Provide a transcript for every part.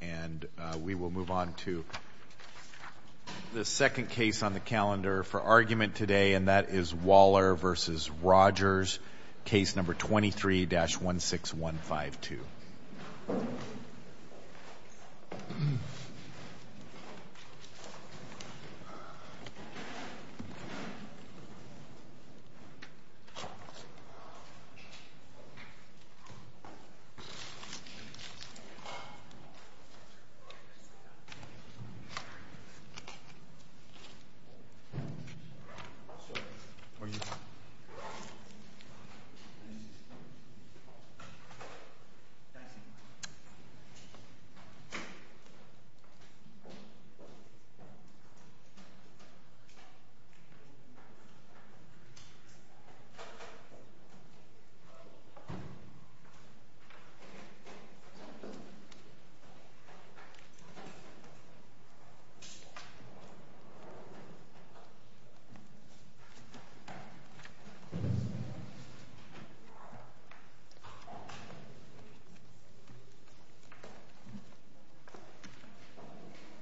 And we will move on to the second case on the calendar for argument today, and that is Waller v. Rogers, case number 23-16152. I will now turn to the second case on the calendar for argument today, and that is Waller v. Rogers, case number 23-16152. I will now turn to the second case on the calendar for argument today, and that is Waller v. Rogers, case number 23-16152.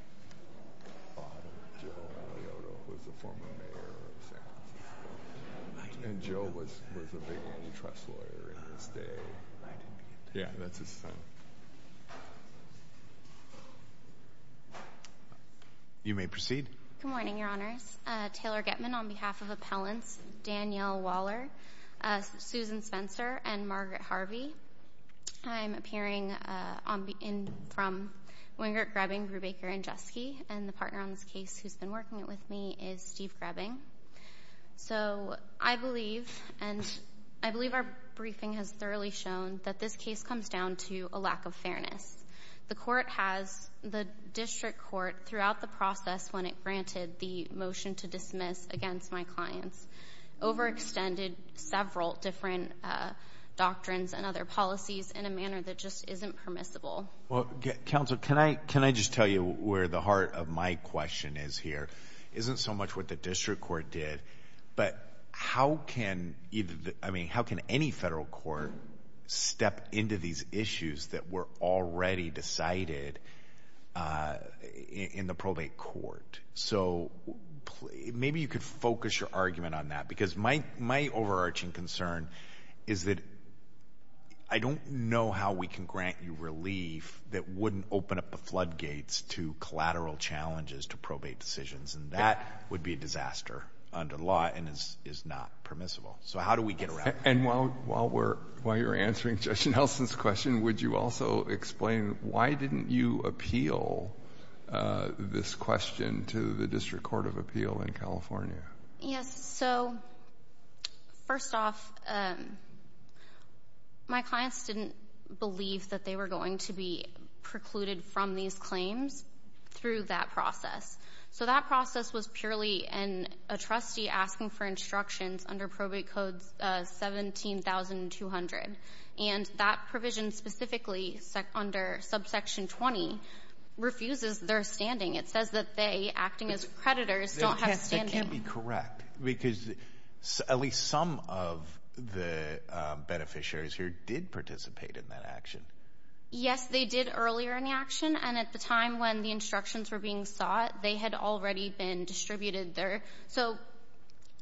You may proceed. Good morning, Your Honors. Taylor Getman on behalf of Appellants Danielle Waller, Susan Spencer, and Margaret Harvey. I'm appearing from Wingert, Grebbing, Brubaker, and Jeske, and the partner on this case who's been working with me is Steve Grebbing. So I believe, and I believe our briefing has thoroughly shown, that this case comes down to a lack of fairness. The court has, the district court, throughout the process when it granted the motion to dismiss against my clients, overextended several different doctrines and other policies in a manner that just isn't permissible. Well, counsel, can I just tell you where the heart of my question is here? It isn't so much what the district court did, but how can either, I mean, how can any federal court step into these issues that were already decided in the probate court? So maybe you could focus your argument on that, because my overarching concern is that I don't know how we can grant you relief that wouldn't open up the floodgates to collateral challenges to probate decisions, and that would be a disaster under the law and is not permissible. So how do we get around that? And while you're answering Judge Nelson's question, would you also explain why didn't you appeal this question to the district court of appeal in California? Yes. So first off, my clients didn't believe that they were going to be precluded from these claims through that process. So that process was purely a trustee asking for instructions under probate code 17200, and that provision specifically under subsection 20 refuses their standing. It says that they, acting as creditors, don't have standing. That can't be correct, because at least some of the beneficiaries here did participate in that action. Yes, they did earlier in the action, and at the time when the instructions were being sought, they had already been distributed there. So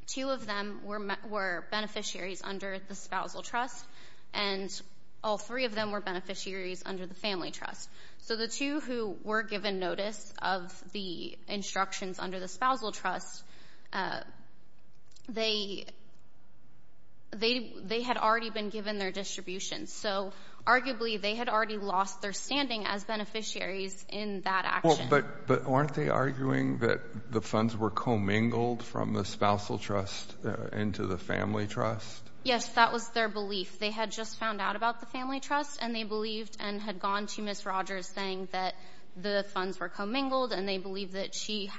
two of them were beneficiaries under the spousal trust, and all three of them were beneficiaries under the family trust. So the two who were given notice of the instructions under the spousal trust, they had already been given their distribution. So arguably they had already lost their standing as beneficiaries in that action. But weren't they arguing that the funds were commingled from the spousal trust into the family trust? Yes, that was their belief. They had just found out about the family trust, and they believed and had gone to Ms. Rogers saying that the funds were commingled, and they believed that she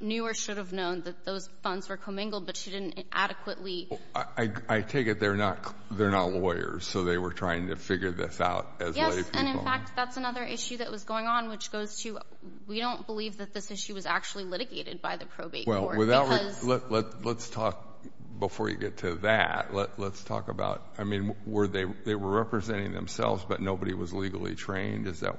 knew or should have known that those funds were commingled, but she didn't adequately. I take it they're not lawyers, so they were trying to figure this out as lay people. Yes, and in fact that's another issue that was going on, which goes to we don't believe that this issue was actually litigated by the probate court. Before you get to that, let's talk about where they were representing themselves, but nobody was legally trained. Is that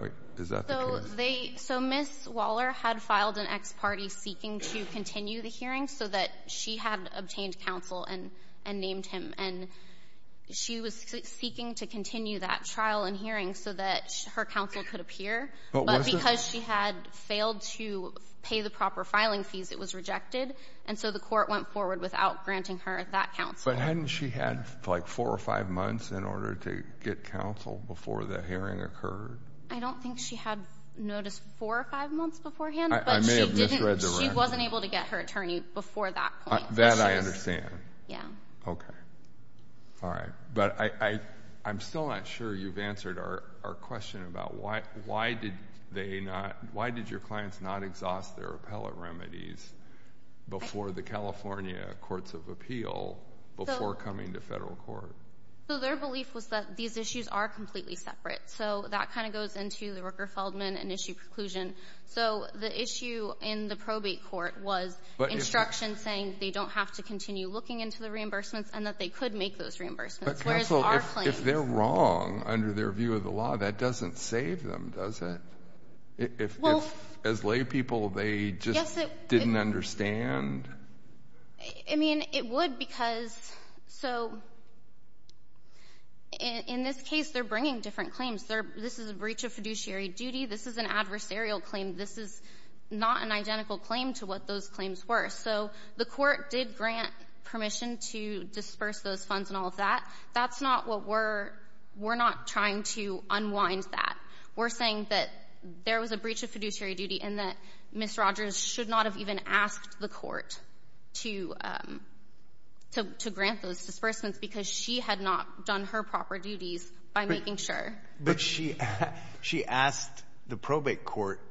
the case? So Ms. Waller had filed an ex parte seeking to continue the hearing so that she had obtained counsel and named him, and she was seeking to continue that trial and hearing so that her counsel could appear. But because she had failed to pay the proper filing fees, it was rejected, and so the court went forward without granting her that counsel. But hadn't she had like four or five months in order to get counsel before the hearing occurred? I don't think she had notice four or five months beforehand, but she wasn't able to get her attorney before that point. That I understand. Yes. Okay. All right. But I'm still not sure you've answered our question about why did they not, why did your clients not exhaust their appellate remedies before the California Courts of Appeal before coming to federal court? So their belief was that these issues are completely separate, so that kind of goes into the Rooker-Feldman and issue preclusion. So the issue in the probate court was instruction saying they don't have to continue looking into the reimbursements and that they could make those reimbursements, whereas our claims. But counsel, if they're wrong under their view of the law, that doesn't save them, does it? If as lay people they just didn't understand. I mean, it would because so in this case they're bringing different claims. This is a breach of fiduciary duty. This is an adversarial claim. This is not an identical claim to what those claims were. So the court did grant permission to disperse those funds and all of that. That's not what we're, we're not trying to unwind that. We're saying that there was a breach of fiduciary duty and that Ms. Rogers should not have even asked the court to grant those disbursements because she had not done her proper duties by making sure. But she asked the probate court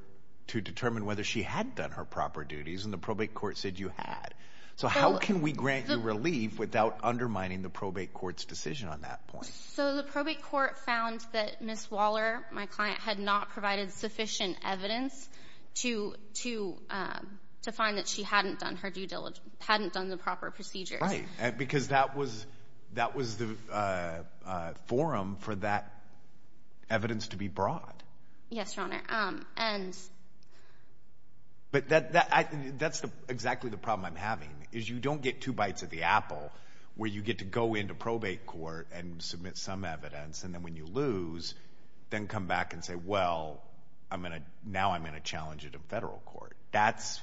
to determine whether she had done her proper duties and the probate court said you had. So how can we grant you relief without undermining the probate court's decision on that point? So the probate court found that Ms. Waller, my client, had not provided sufficient evidence to find that she hadn't done her due diligence, hadn't done the proper procedures. Right, because that was, that was the forum for that evidence to be brought. Yes, Your Honor. But that's exactly the problem I'm having is you don't get two bites of the apple where you get to go into probate court and submit some evidence and then when you lose then come back and say, well, I'm going to, now I'm going to challenge it in federal court. That's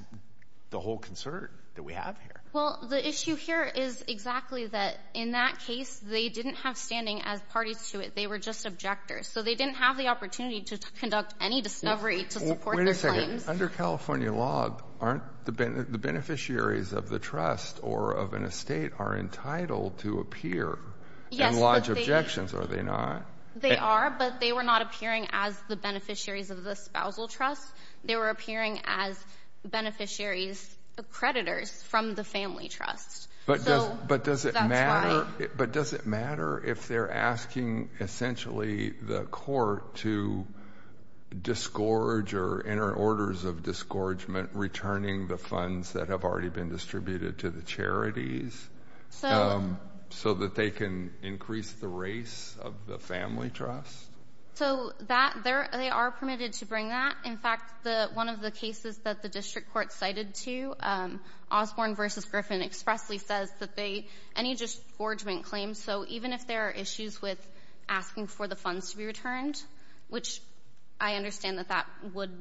the whole concern that we have here. Well, the issue here is exactly that. In that case, they didn't have standing as parties to it. They were just objectors. So they didn't have the opportunity to conduct any discovery to support their claims. Wait a second. Under California law, aren't the beneficiaries of the trust or of an estate are entitled to appear and lodge objections, are they not? They are, but they were not appearing as the beneficiaries of the spousal trust. They were appearing as beneficiaries, creditors from the family trust. But does it matter if they're asking essentially the court to disgorge or enter orders of disgorgement, returning the funds that have already been distributed to the charities so that they can increase the race of the family trust? So that, they are permitted to bring that. In fact, one of the cases that the district court cited to, Osborne v. Griffin expressly says that any disgorgement claims, so even if there are issues with asking for the funds to be returned, which I understand that that would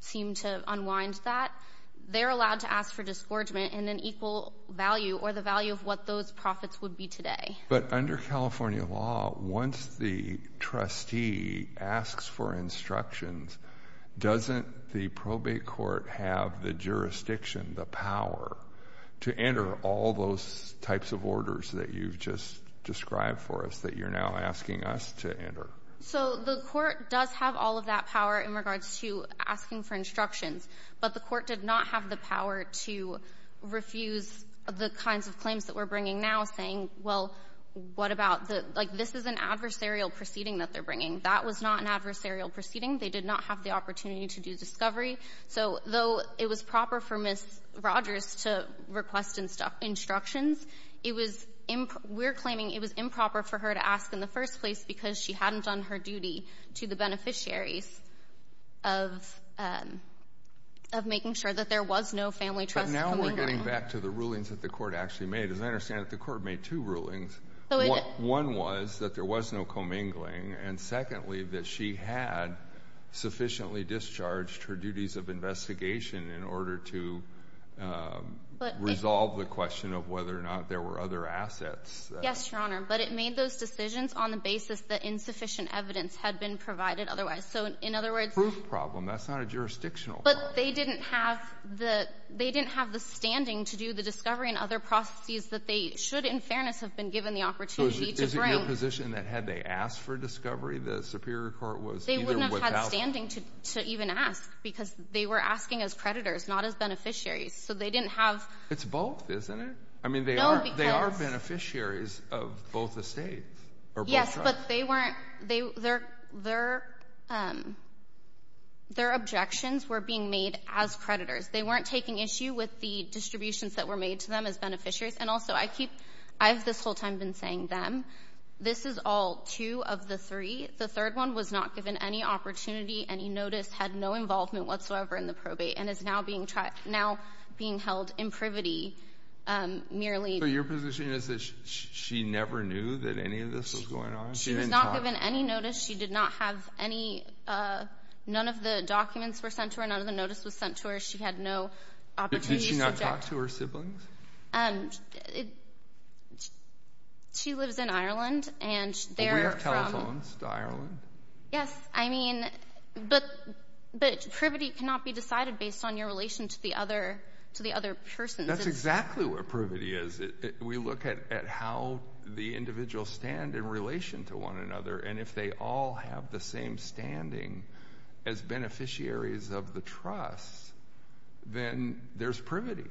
seem to unwind that, they're allowed to ask for disgorgement in an equal value or the value of what those profits would be today. But under California law, once the trustee asks for instructions, doesn't the probate court have the jurisdiction, the power to enter all those types of orders that you've just described for us, that you're now asking us to enter? So the court does have all of that power in regards to asking for instructions, but the court did not have the power to refuse the kinds of claims that we're bringing now saying, well, what about the, like, this is an adversarial proceeding that they're bringing. That was not an adversarial proceeding. They did not have the opportunity to do discovery. So though it was proper for Ms. Rogers to request instructions, it was, we're claiming it was improper for her to ask in the first place because she hadn't done her duty to the beneficiaries of making sure that there was no family trust commingling. But now we're getting back to the rulings that the court actually made. As I understand it, the court made two rulings. One was that there was no commingling, and secondly, that she had sufficiently discharged her duties of investigation in order to resolve the question of whether or not there were other assets. Yes, Your Honor. But it made those decisions on the basis that insufficient evidence had been provided otherwise. So in other words— Proof problem. That's not a jurisdictional problem. But they didn't have the standing to do the discovery and other processes that they should, in fairness, have been given the opportunity to bring. So is it your position that had they asked for discovery, the Superior Court was either without— They wouldn't have had standing to even ask because they were asking as creditors, not as beneficiaries. So they didn't have— It's both, isn't it? No, because— They are beneficiaries of both estates. Yes, but they weren't—their objections were being made as creditors. They weren't taking issue with the distributions that were made to them as beneficiaries. And also, I keep—I've this whole time been saying them. This is all two of the three. The third one was not given any opportunity, any notice, had no involvement whatsoever in the probate, and is now being held in privity merely— So your position is that she never knew that any of this was going on? She was not given any notice. She did not have any—none of the documents were sent to her. None of the notice was sent to her. She had no opportunity to— Did she not talk to her siblings? She lives in Ireland, and they're from— But we are telephones to Ireland. Yes, I mean, but privity cannot be decided based on your relation to the other person. That's exactly what privity is. We look at how the individuals stand in relation to one another, and if they all have the same standing as beneficiaries of the trust, then there's privity.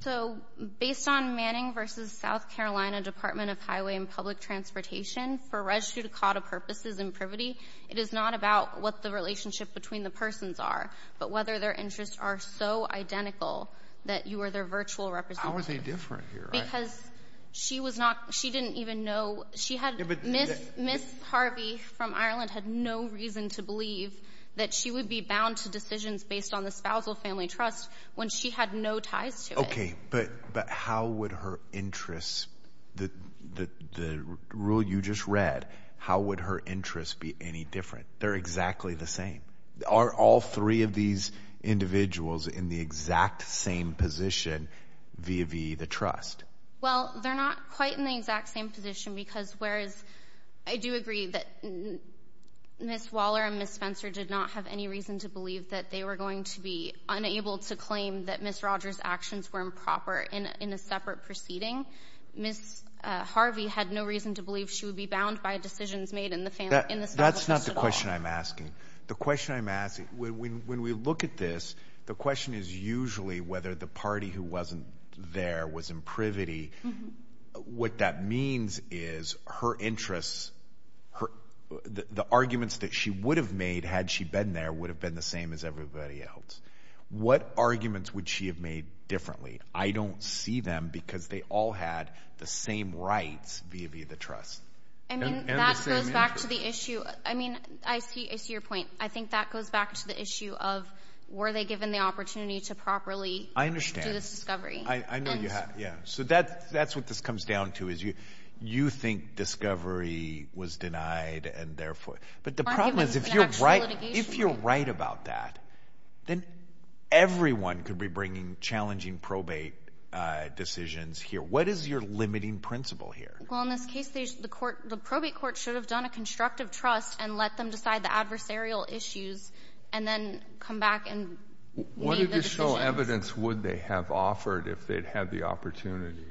So based on Manning v. South Carolina Department of Highway and Public Transportation, for res judicata purposes in privity, it is not about what the relationship between the persons are, but whether their interests are so identical that you are their virtual representative. How are they different here? Because she was not—she didn't even know— Ms. Harvey from Ireland had no reason to believe that she would be bound to decisions based on the spousal family trust when she had no ties to it. Okay, but how would her interests—the rule you just read, how would her interests be any different? They're exactly the same. Are all three of these individuals in the exact same position via v. the trust? Well, they're not quite in the exact same position because whereas I do agree that Ms. Waller and Ms. Spencer did not have any reason to believe that they were going to be unable to claim that Ms. Rogers' actions were improper in a separate proceeding, Ms. Harvey had no reason to believe she would be bound by decisions made in the family— That's not the question I'm asking. The question I'm asking, when we look at this, the question is usually whether the party who wasn't there was in privity. What that means is her interests, the arguments that she would have made had she been there would have been the same as everybody else. What arguments would she have made differently? I don't see them because they all had the same rights via v. the trust. I mean, that goes back to the issue—I mean, I see your point. I think that goes back to the issue of were they given the opportunity to properly do this discovery. I understand. I know you have. So that's what this comes down to is you think discovery was denied and therefore— But the problem is if you're right about that, then everyone could be bringing challenging probate decisions here. What is your limiting principle here? Well, in this case, the probate court should have done a constructive trust and let them decide the adversarial issues and then come back and make the decisions. What additional evidence would they have offered if they'd had the opportunity?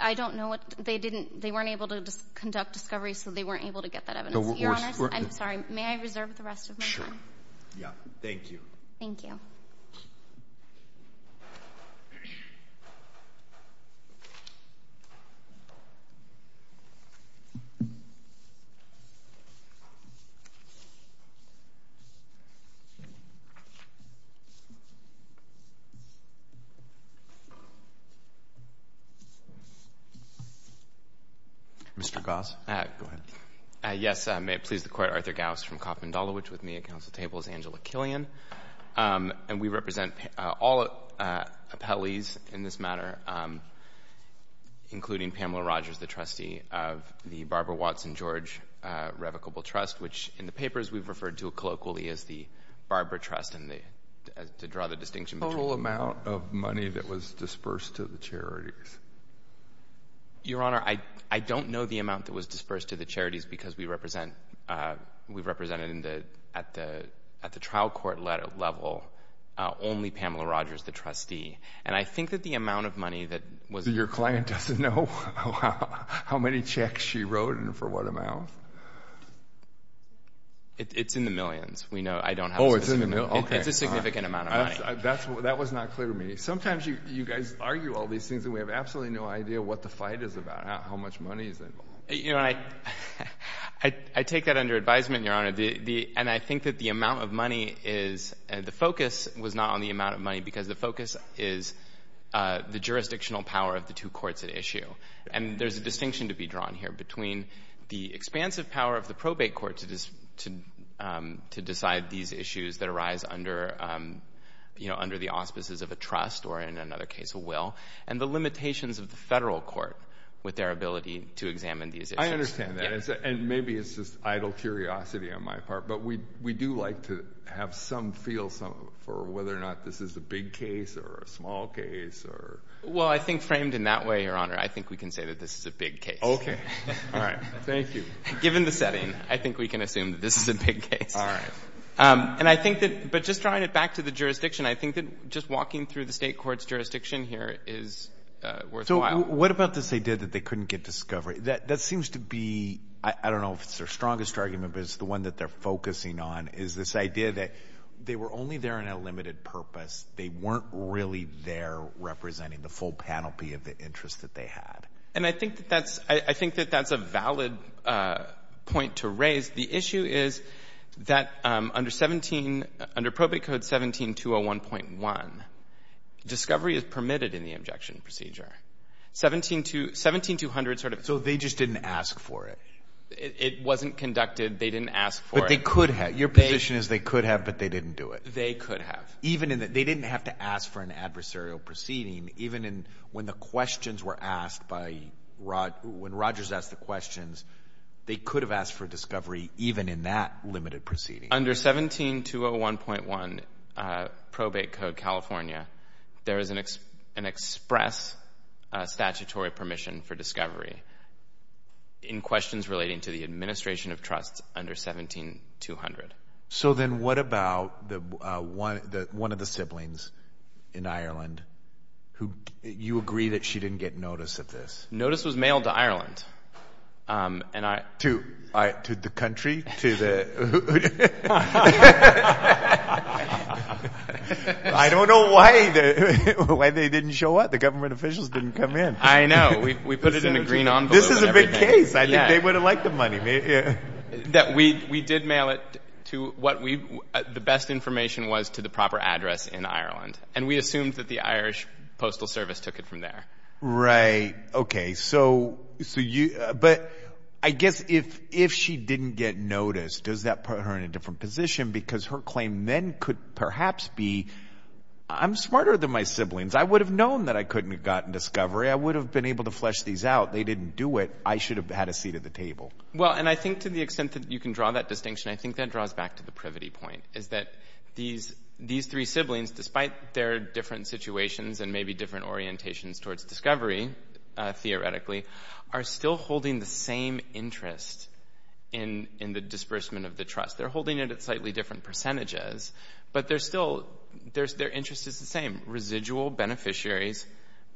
I don't know. They weren't able to conduct discoveries, so they weren't able to get that evidence. Your Honor, I'm sorry. May I reserve the rest of my time? Sure. Yeah. Thank you. Thank you. Thank you. Mr. Gause, go ahead. Yes. May it please the Court. Arthur Gause from Coffman-Dolowich with me at Council table as Angela Killian. And we represent all appellees in this matter, including Pamela Rogers, the trustee of the Barbara Watson George Revocable Trust, which in the papers we've referred to colloquially as the Barbara Trust, and to draw the distinction between— Total amount of money that was dispersed to the charities? Your Honor, I don't know the amount that was dispersed to the charities because we've represented at the trial court level only Pamela Rogers, the trustee. And I think that the amount of money that was— Your client doesn't know how many checks she wrote and for what amount? It's in the millions. We know— Oh, it's in the millions. Okay. It's a significant amount of money. That was not clear to me. Sometimes you guys argue all these things and we have absolutely no idea what the fight is about, how much money is involved. I take that under advisement, Your Honor, and I think that the amount of money is— the focus was not on the amount of money because the focus is the jurisdictional power of the two courts at issue. And there's a distinction to be drawn here between the expansive power of the probate court to decide these issues that arise under the auspices of a trust or, in another case, a will, and the limitations of the federal court with their ability to examine these issues. I understand that. And maybe it's just idle curiosity on my part, but we do like to have some feel for whether or not this is a big case or a small case or— Well, I think framed in that way, Your Honor, I think we can say that this is a big case. Okay. All right. Thank you. Given the setting, I think we can assume that this is a big case. All right. And I think that—but just drawing it back to the jurisdiction, I think that just walking through the State court's jurisdiction here is worthwhile. So what about this idea that they couldn't get discovery? That seems to be—I don't know if it's their strongest argument, but it's the one that they're focusing on is this idea that they were only there on a limited purpose. They weren't really there representing the full panoply of the interest that they had. And I think that that's—I think that that's a valid point to raise. The issue is that under 17—under Probate Code 17-201.1, discovery is permitted in the injection procedure. 17-200 sort of— So they just didn't ask for it? It wasn't conducted. They didn't ask for it. But they could have. Your position is they could have, but they didn't do it. They could have. Even in the—they didn't have to ask for an adversarial proceeding, even when the questions were asked by—when Rogers asked the questions, they could have asked for discovery even in that limited proceeding. Under 17-201.1 Probate Code California, there is an express statutory permission for discovery in questions relating to the administration of trusts under 17-200. So then what about the—one of the siblings in Ireland who— you agree that she didn't get notice of this? Notice was mailed to Ireland, and I— To the country? To the— I don't know why they didn't show up. The government officials didn't come in. I know. We put it in a green envelope. This is a big case. I think they would have liked the money. That we did mail it to what we— the best information was to the proper address in Ireland, and we assumed that the Irish Postal Service took it from there. Right. Okay. So you— But I guess if she didn't get notice, does that put her in a different position? Because her claim then could perhaps be, I'm smarter than my siblings. I would have known that I couldn't have gotten discovery. I would have been able to flesh these out. They didn't do it. I should have had a seat at the table. Well, and I think to the extent that you can draw that distinction, I think that draws back to the privity point, is that these three siblings, despite their different situations and maybe different orientations towards discovery, theoretically, are still holding the same interest in the disbursement of the trust. They're holding it at slightly different percentages, but they're still—their interest is the same. Residual beneficiaries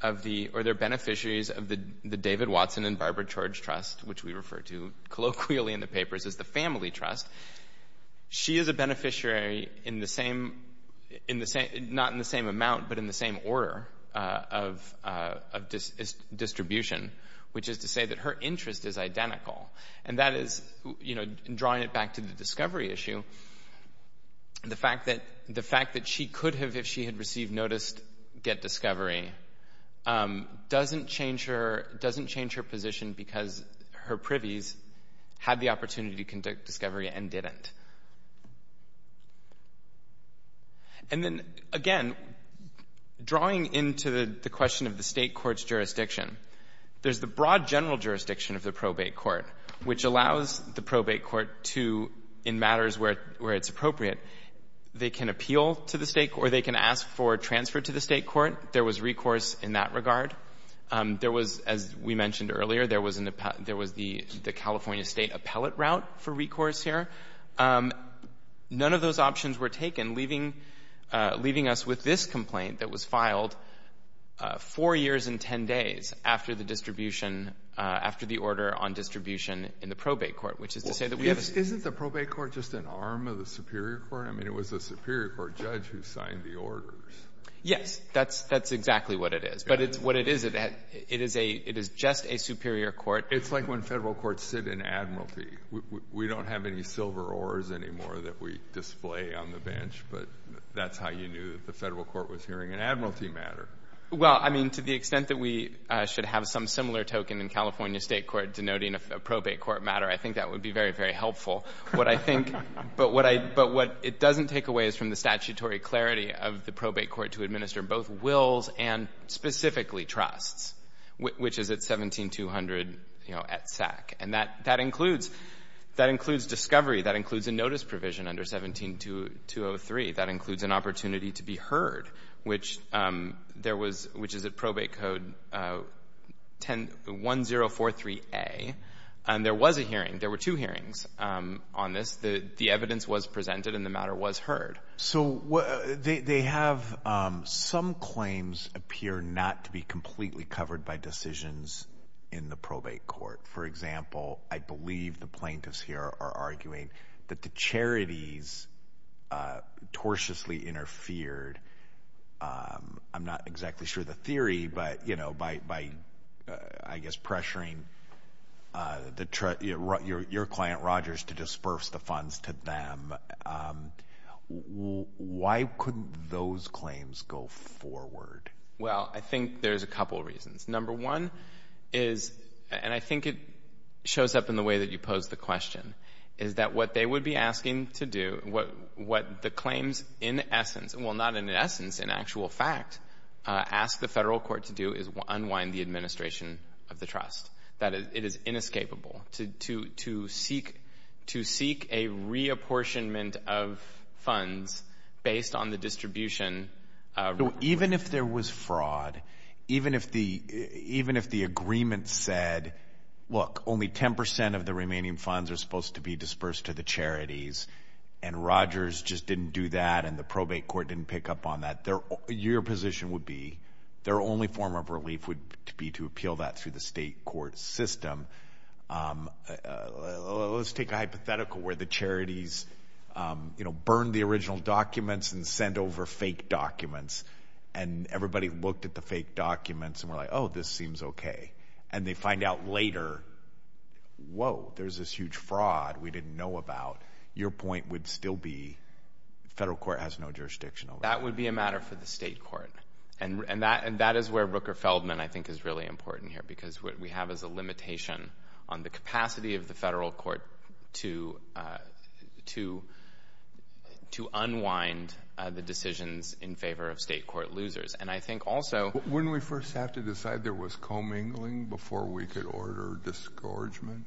of the— or they're beneficiaries of the David Watson and Barbara George Trust, which we refer to colloquially in the papers as the family trust. She is a beneficiary in the same— in the same order of distribution, which is to say that her interest is identical. And that is, you know, drawing it back to the discovery issue, the fact that she could have, if she had received notice, get discovery, doesn't change her position because her privies had the opportunity to conduct discovery and didn't. And then, again, drawing into the question of the State court's jurisdiction, there's the broad general jurisdiction of the probate court, which allows the probate court to, in matters where it's appropriate, they can appeal to the State court, or they can ask for transfer to the State court. There was recourse in that regard. There was, as we mentioned earlier, there was an—there was the California State appellate route for recourse here. None of those options were taken, leaving us with this complaint that was filed four years and 10 days after the distribution—after the order on distribution in the probate court, which is to say that we have a— Isn't the probate court just an arm of the Superior Court? I mean, it was the Superior Court judge who signed the orders. Yes, that's exactly what it is. But it's what it is. It is a—it is just a Superior Court— It's like when Federal courts sit in Admiralty. We don't have any silver oars anymore that we display on the bench, but that's how you knew that the Federal court was hearing an Admiralty matter. Well, I mean, to the extent that we should have some similar token in California State court denoting a probate court matter, I think that would be very, very helpful. What I think—but what I—but what it doesn't take away is from the statutory clarity of the probate court to administer both wills and specifically trusts, which is at 17-200, you know, at SAC. And that includes discovery. That includes a notice provision under 17-203. That includes an opportunity to be heard, which there was—which is at Probate Code 1043A. And there was a hearing. There were two hearings on this. The evidence was presented, and the matter was heard. So they have—some claims appear not to be completely covered by decisions in the probate court. For example, I believe the plaintiffs here are arguing that the charities tortiously interfered. I'm not exactly sure the theory, but, you know, by, I guess, pressuring your client, Rogers, to disburse the funds to them. Why couldn't those claims go forward? Well, I think there's a couple reasons. Number one is—and I think it shows up in the way that you posed the question— is that what they would be asking to do, what the claims in essence— well, not in essence, in actual fact—ask the federal court to do is unwind the administration of the trust. That is, it is inescapable to seek a reapportionment of funds based on the distribution— even if the agreement said, look, only 10% of the remaining funds are supposed to be disbursed to the charities, and Rogers just didn't do that and the probate court didn't pick up on that, your position would be their only form of relief would be to appeal that through the state court system. Let's take a hypothetical where the charities, you know, burned the original documents and sent over fake documents, and everybody looked at the fake documents and were like, oh, this seems okay. And they find out later, whoa, there's this huge fraud we didn't know about. Your point would still be the federal court has no jurisdiction over that. That would be a matter for the state court. And that is where Rooker-Feldman, I think, is really important here because what we have is a limitation on the capacity of the federal court to unwind the decisions in favor of state court losers. And I think also— Wouldn't we first have to decide there was commingling before we could order disgorgement?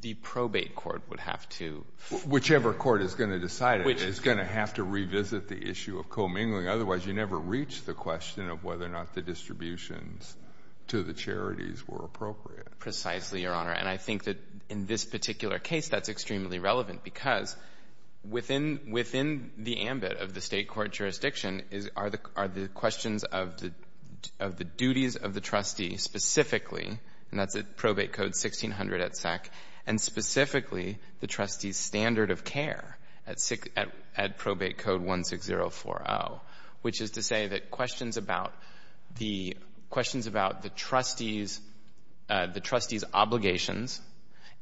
The probate court would have to— Whichever court is going to decide it is going to have to revisit the issue of commingling. Otherwise, you never reach the question of whether or not the distributions to the charities were appropriate. Precisely, Your Honor. And I think that in this particular case, that's extremely relevant because within the ambit of the state court jurisdiction are the questions of the duties of the trustee specifically, and that's at Probate Code 1600 at SEC, and specifically the trustee's standard of care at Probate Code 16040, which is to say that questions about the trustees' obligations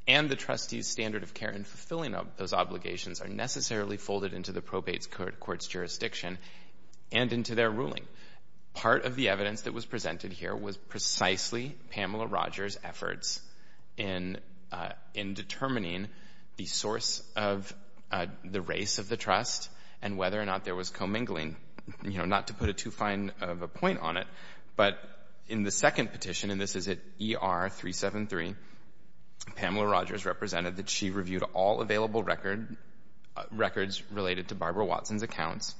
and the trustees' standard of care in fulfilling those obligations are necessarily folded into the probate court's jurisdiction and into their ruling. Part of the evidence that was presented here was precisely Pamela Rogers' efforts in determining the source of the race of the trust and whether or not there was commingling. You know, not to put a too fine of a point on it, but in the second petition, and this is at ER 373, Pamela Rogers represented that she reviewed all available records related to Barbara Watson's accounts.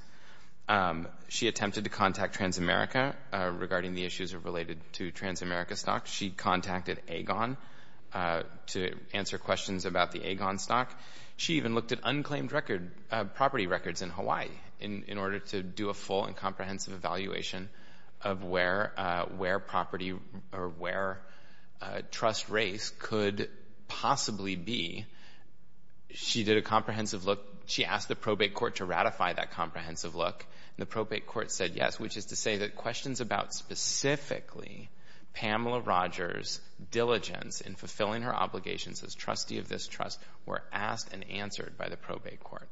She attempted to contact Transamerica regarding the issues related to Transamerica stocks. She contacted Agon to answer questions about the Agon stock. She even looked at unclaimed property records in Hawaii in order to do a full and comprehensive evaluation of where trust race could possibly be. She did a comprehensive look. She asked the probate court to ratify that comprehensive look, and the probate court said yes, which is to say that questions about specifically Pamela Rogers' diligence in fulfilling her obligations as trustee of this trust were asked and answered by the probate court.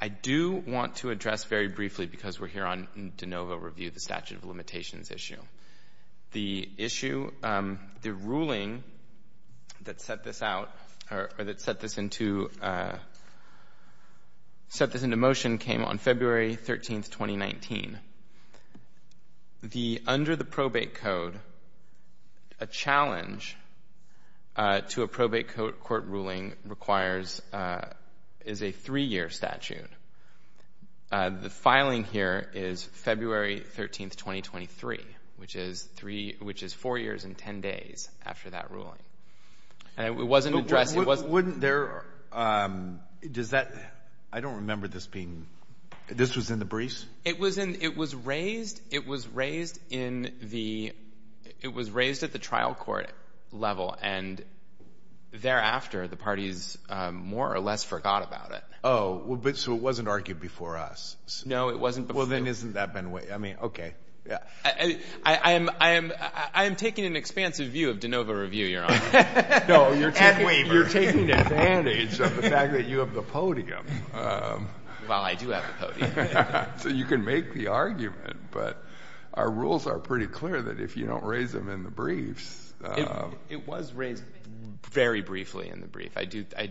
I do want to address very briefly, because we're here on de novo review, the statute of limitations issue. The issue, the ruling that set this out, or that set this into motion, came on February 13, 2019. Under the probate code, a challenge to a probate court ruling is a three-year statute. The filing here is February 13, 2023, which is four years and ten days after that ruling. It wasn't addressed. I don't remember this being, this was in the briefs? It was raised at the trial court level, and thereafter the parties more or less forgot about it. Oh, so it wasn't argued before us. No, it wasn't before. Well, then isn't that been, I mean, okay. You're taking advantage of the fact that you have the podium. Well, I do have the podium. So you can make the argument, but our rules are pretty clear that if you don't raise them in the briefs. It was raised very briefly in the brief. I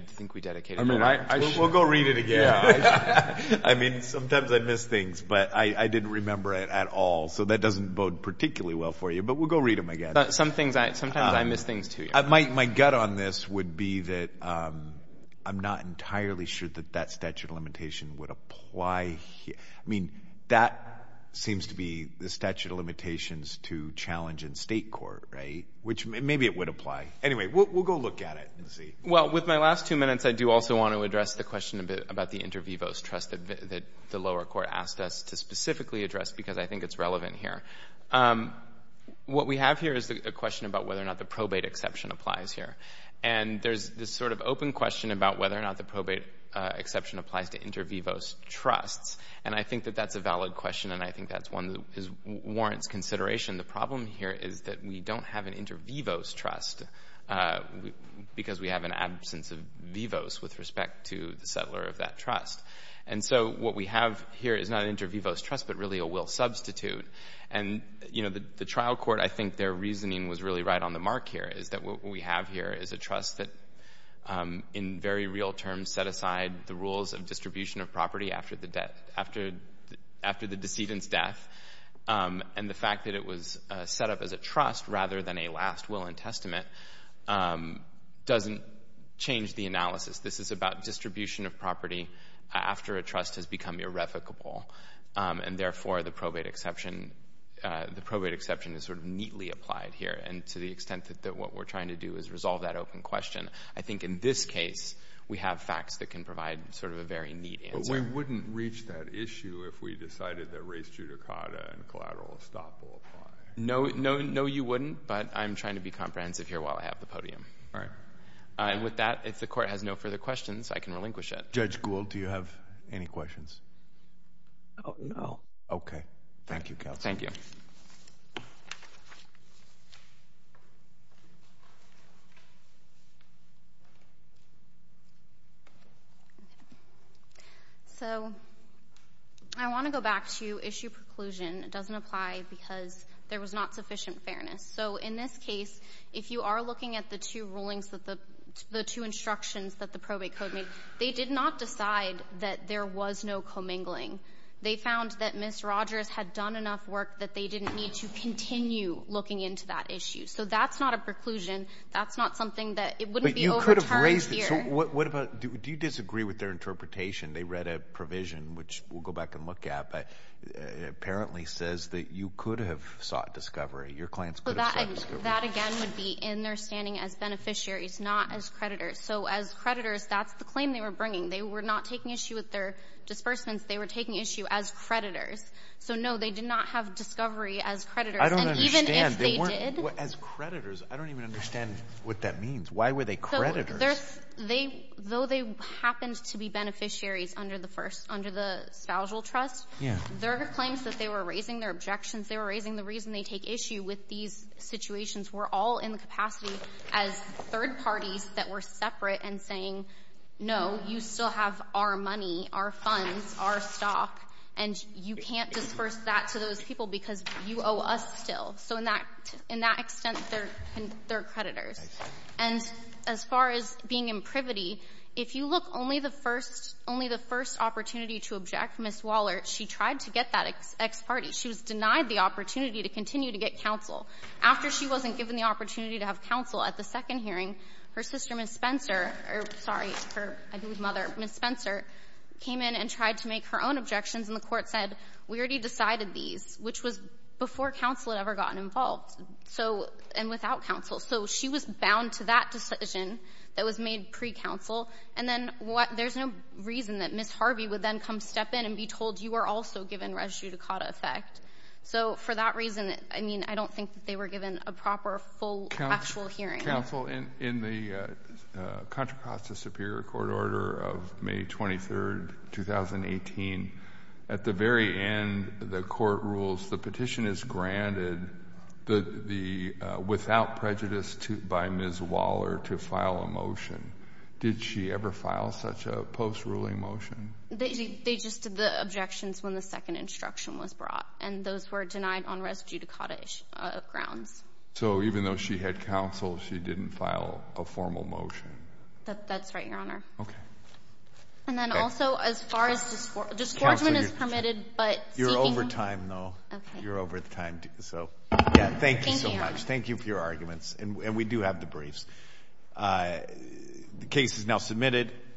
think we dedicated it. We'll go read it again. I mean, sometimes I miss things, but I didn't remember it at all. So that doesn't bode particularly well for you, but we'll go read them again. Sometimes I miss things, too. My gut on this would be that I'm not entirely sure that that statute of limitation would apply. I mean, that seems to be the statute of limitations to challenge in state court, right? Which maybe it would apply. Anyway, we'll go look at it and see. Well, with my last two minutes, I do also want to address the question a bit about the inter vivos trust that the lower court asked us to specifically address because I think it's relevant here. What we have here is a question about whether or not the probate exception applies here. And there's this sort of open question about whether or not the probate exception applies to inter vivos trusts. And I think that that's a valid question, and I think that's one that warrants consideration. The problem here is that we don't have an inter vivos trust because we have an absence of vivos with respect to the settler of that trust. And so what we have here is not an inter vivos trust, but really a will substitute. And, you know, the trial court, I think their reasoning was really right on the mark here, is that what we have here is a trust that, in very real terms, set aside the rules of distribution of property after the decedent's death. And the fact that it was set up as a trust rather than a last will and testament doesn't change the analysis. This is about distribution of property after a trust has become irrevocable. And, therefore, the probate exception is sort of neatly applied here. And to the extent that what we're trying to do is resolve that open question, I think in this case we have facts that can provide sort of a very neat answer. But we wouldn't reach that issue if we decided that res judicata and collateral estoppel apply. No, you wouldn't, but I'm trying to be comprehensive here while I have the podium. All right. And with that, if the court has no further questions, I can relinquish it. Judge Gould, do you have any questions? No. Okay. Thank you, counsel. Thank you. So I want to go back to issue preclusion. It doesn't apply because there was not sufficient fairness. So in this case, if you are looking at the two rulings, the two instructions that the probate code made, they did not decide that there was no commingling. They found that Ms. Rogers had done enough work that they didn't need to continue looking into that issue. So that's not a preclusion. That's not something that it wouldn't be overturned here. Do you disagree with their interpretation? They read a provision, which we'll go back and look at, but it apparently says that you could have sought discovery. Your clients could have sought discovery. That, again, would be in their standing as beneficiaries, not as creditors. So as creditors, that's the claim they were bringing. They were not taking issue with their disbursements. They were taking issue as creditors. So, no, they did not have discovery as creditors. I don't understand. And even if they did. As creditors? I don't even understand what that means. Why were they creditors? Though they happened to be beneficiaries under the spousal trust, their claims that they were raising their objections, they were raising the reason they take issue with these situations were all in the capacity as third parties that were separate and saying, no, you still have our money, our funds, our stock, and you can't disburse that to those people because you owe us still. So in that extent, they're creditors. And as far as being in privity, if you look only the first opportunity to object, Ms. Wallert, she tried to get that ex parte. She was denied the opportunity to continue to get counsel. After she wasn't given the opportunity to have counsel at the second hearing, her sister, Ms. Spencer, or sorry, her mother, Ms. Spencer, came in and tried to make her own objections, and the court said we already decided these, which was before counsel had ever gotten involved, and without counsel. So she was bound to that decision that was made pre-counsel, and then there's no reason that Ms. Harvey would then come step in and be told you are also given res judicata effect. So for that reason, I mean, I don't think that they were given a proper full actual hearing. Counsel, in the Contra Costa Superior Court order of May 23rd, 2018, at the very end, the court rules the petition is granted without prejudice by Ms. Wallert to file a motion. Did she ever file such a post ruling motion? They just did the objections when the second instruction was brought, and those were denied on res judicata grounds. So even though she had counsel, she didn't file a formal motion? That's right, Your Honor. Okay. And then also, as far as discordment is permitted, but seeking— You're over time, though. Okay. You're over time. So, yeah, thank you so much. Thank you. Thank you for your arguments, and we do have the briefs. The case is now submitted.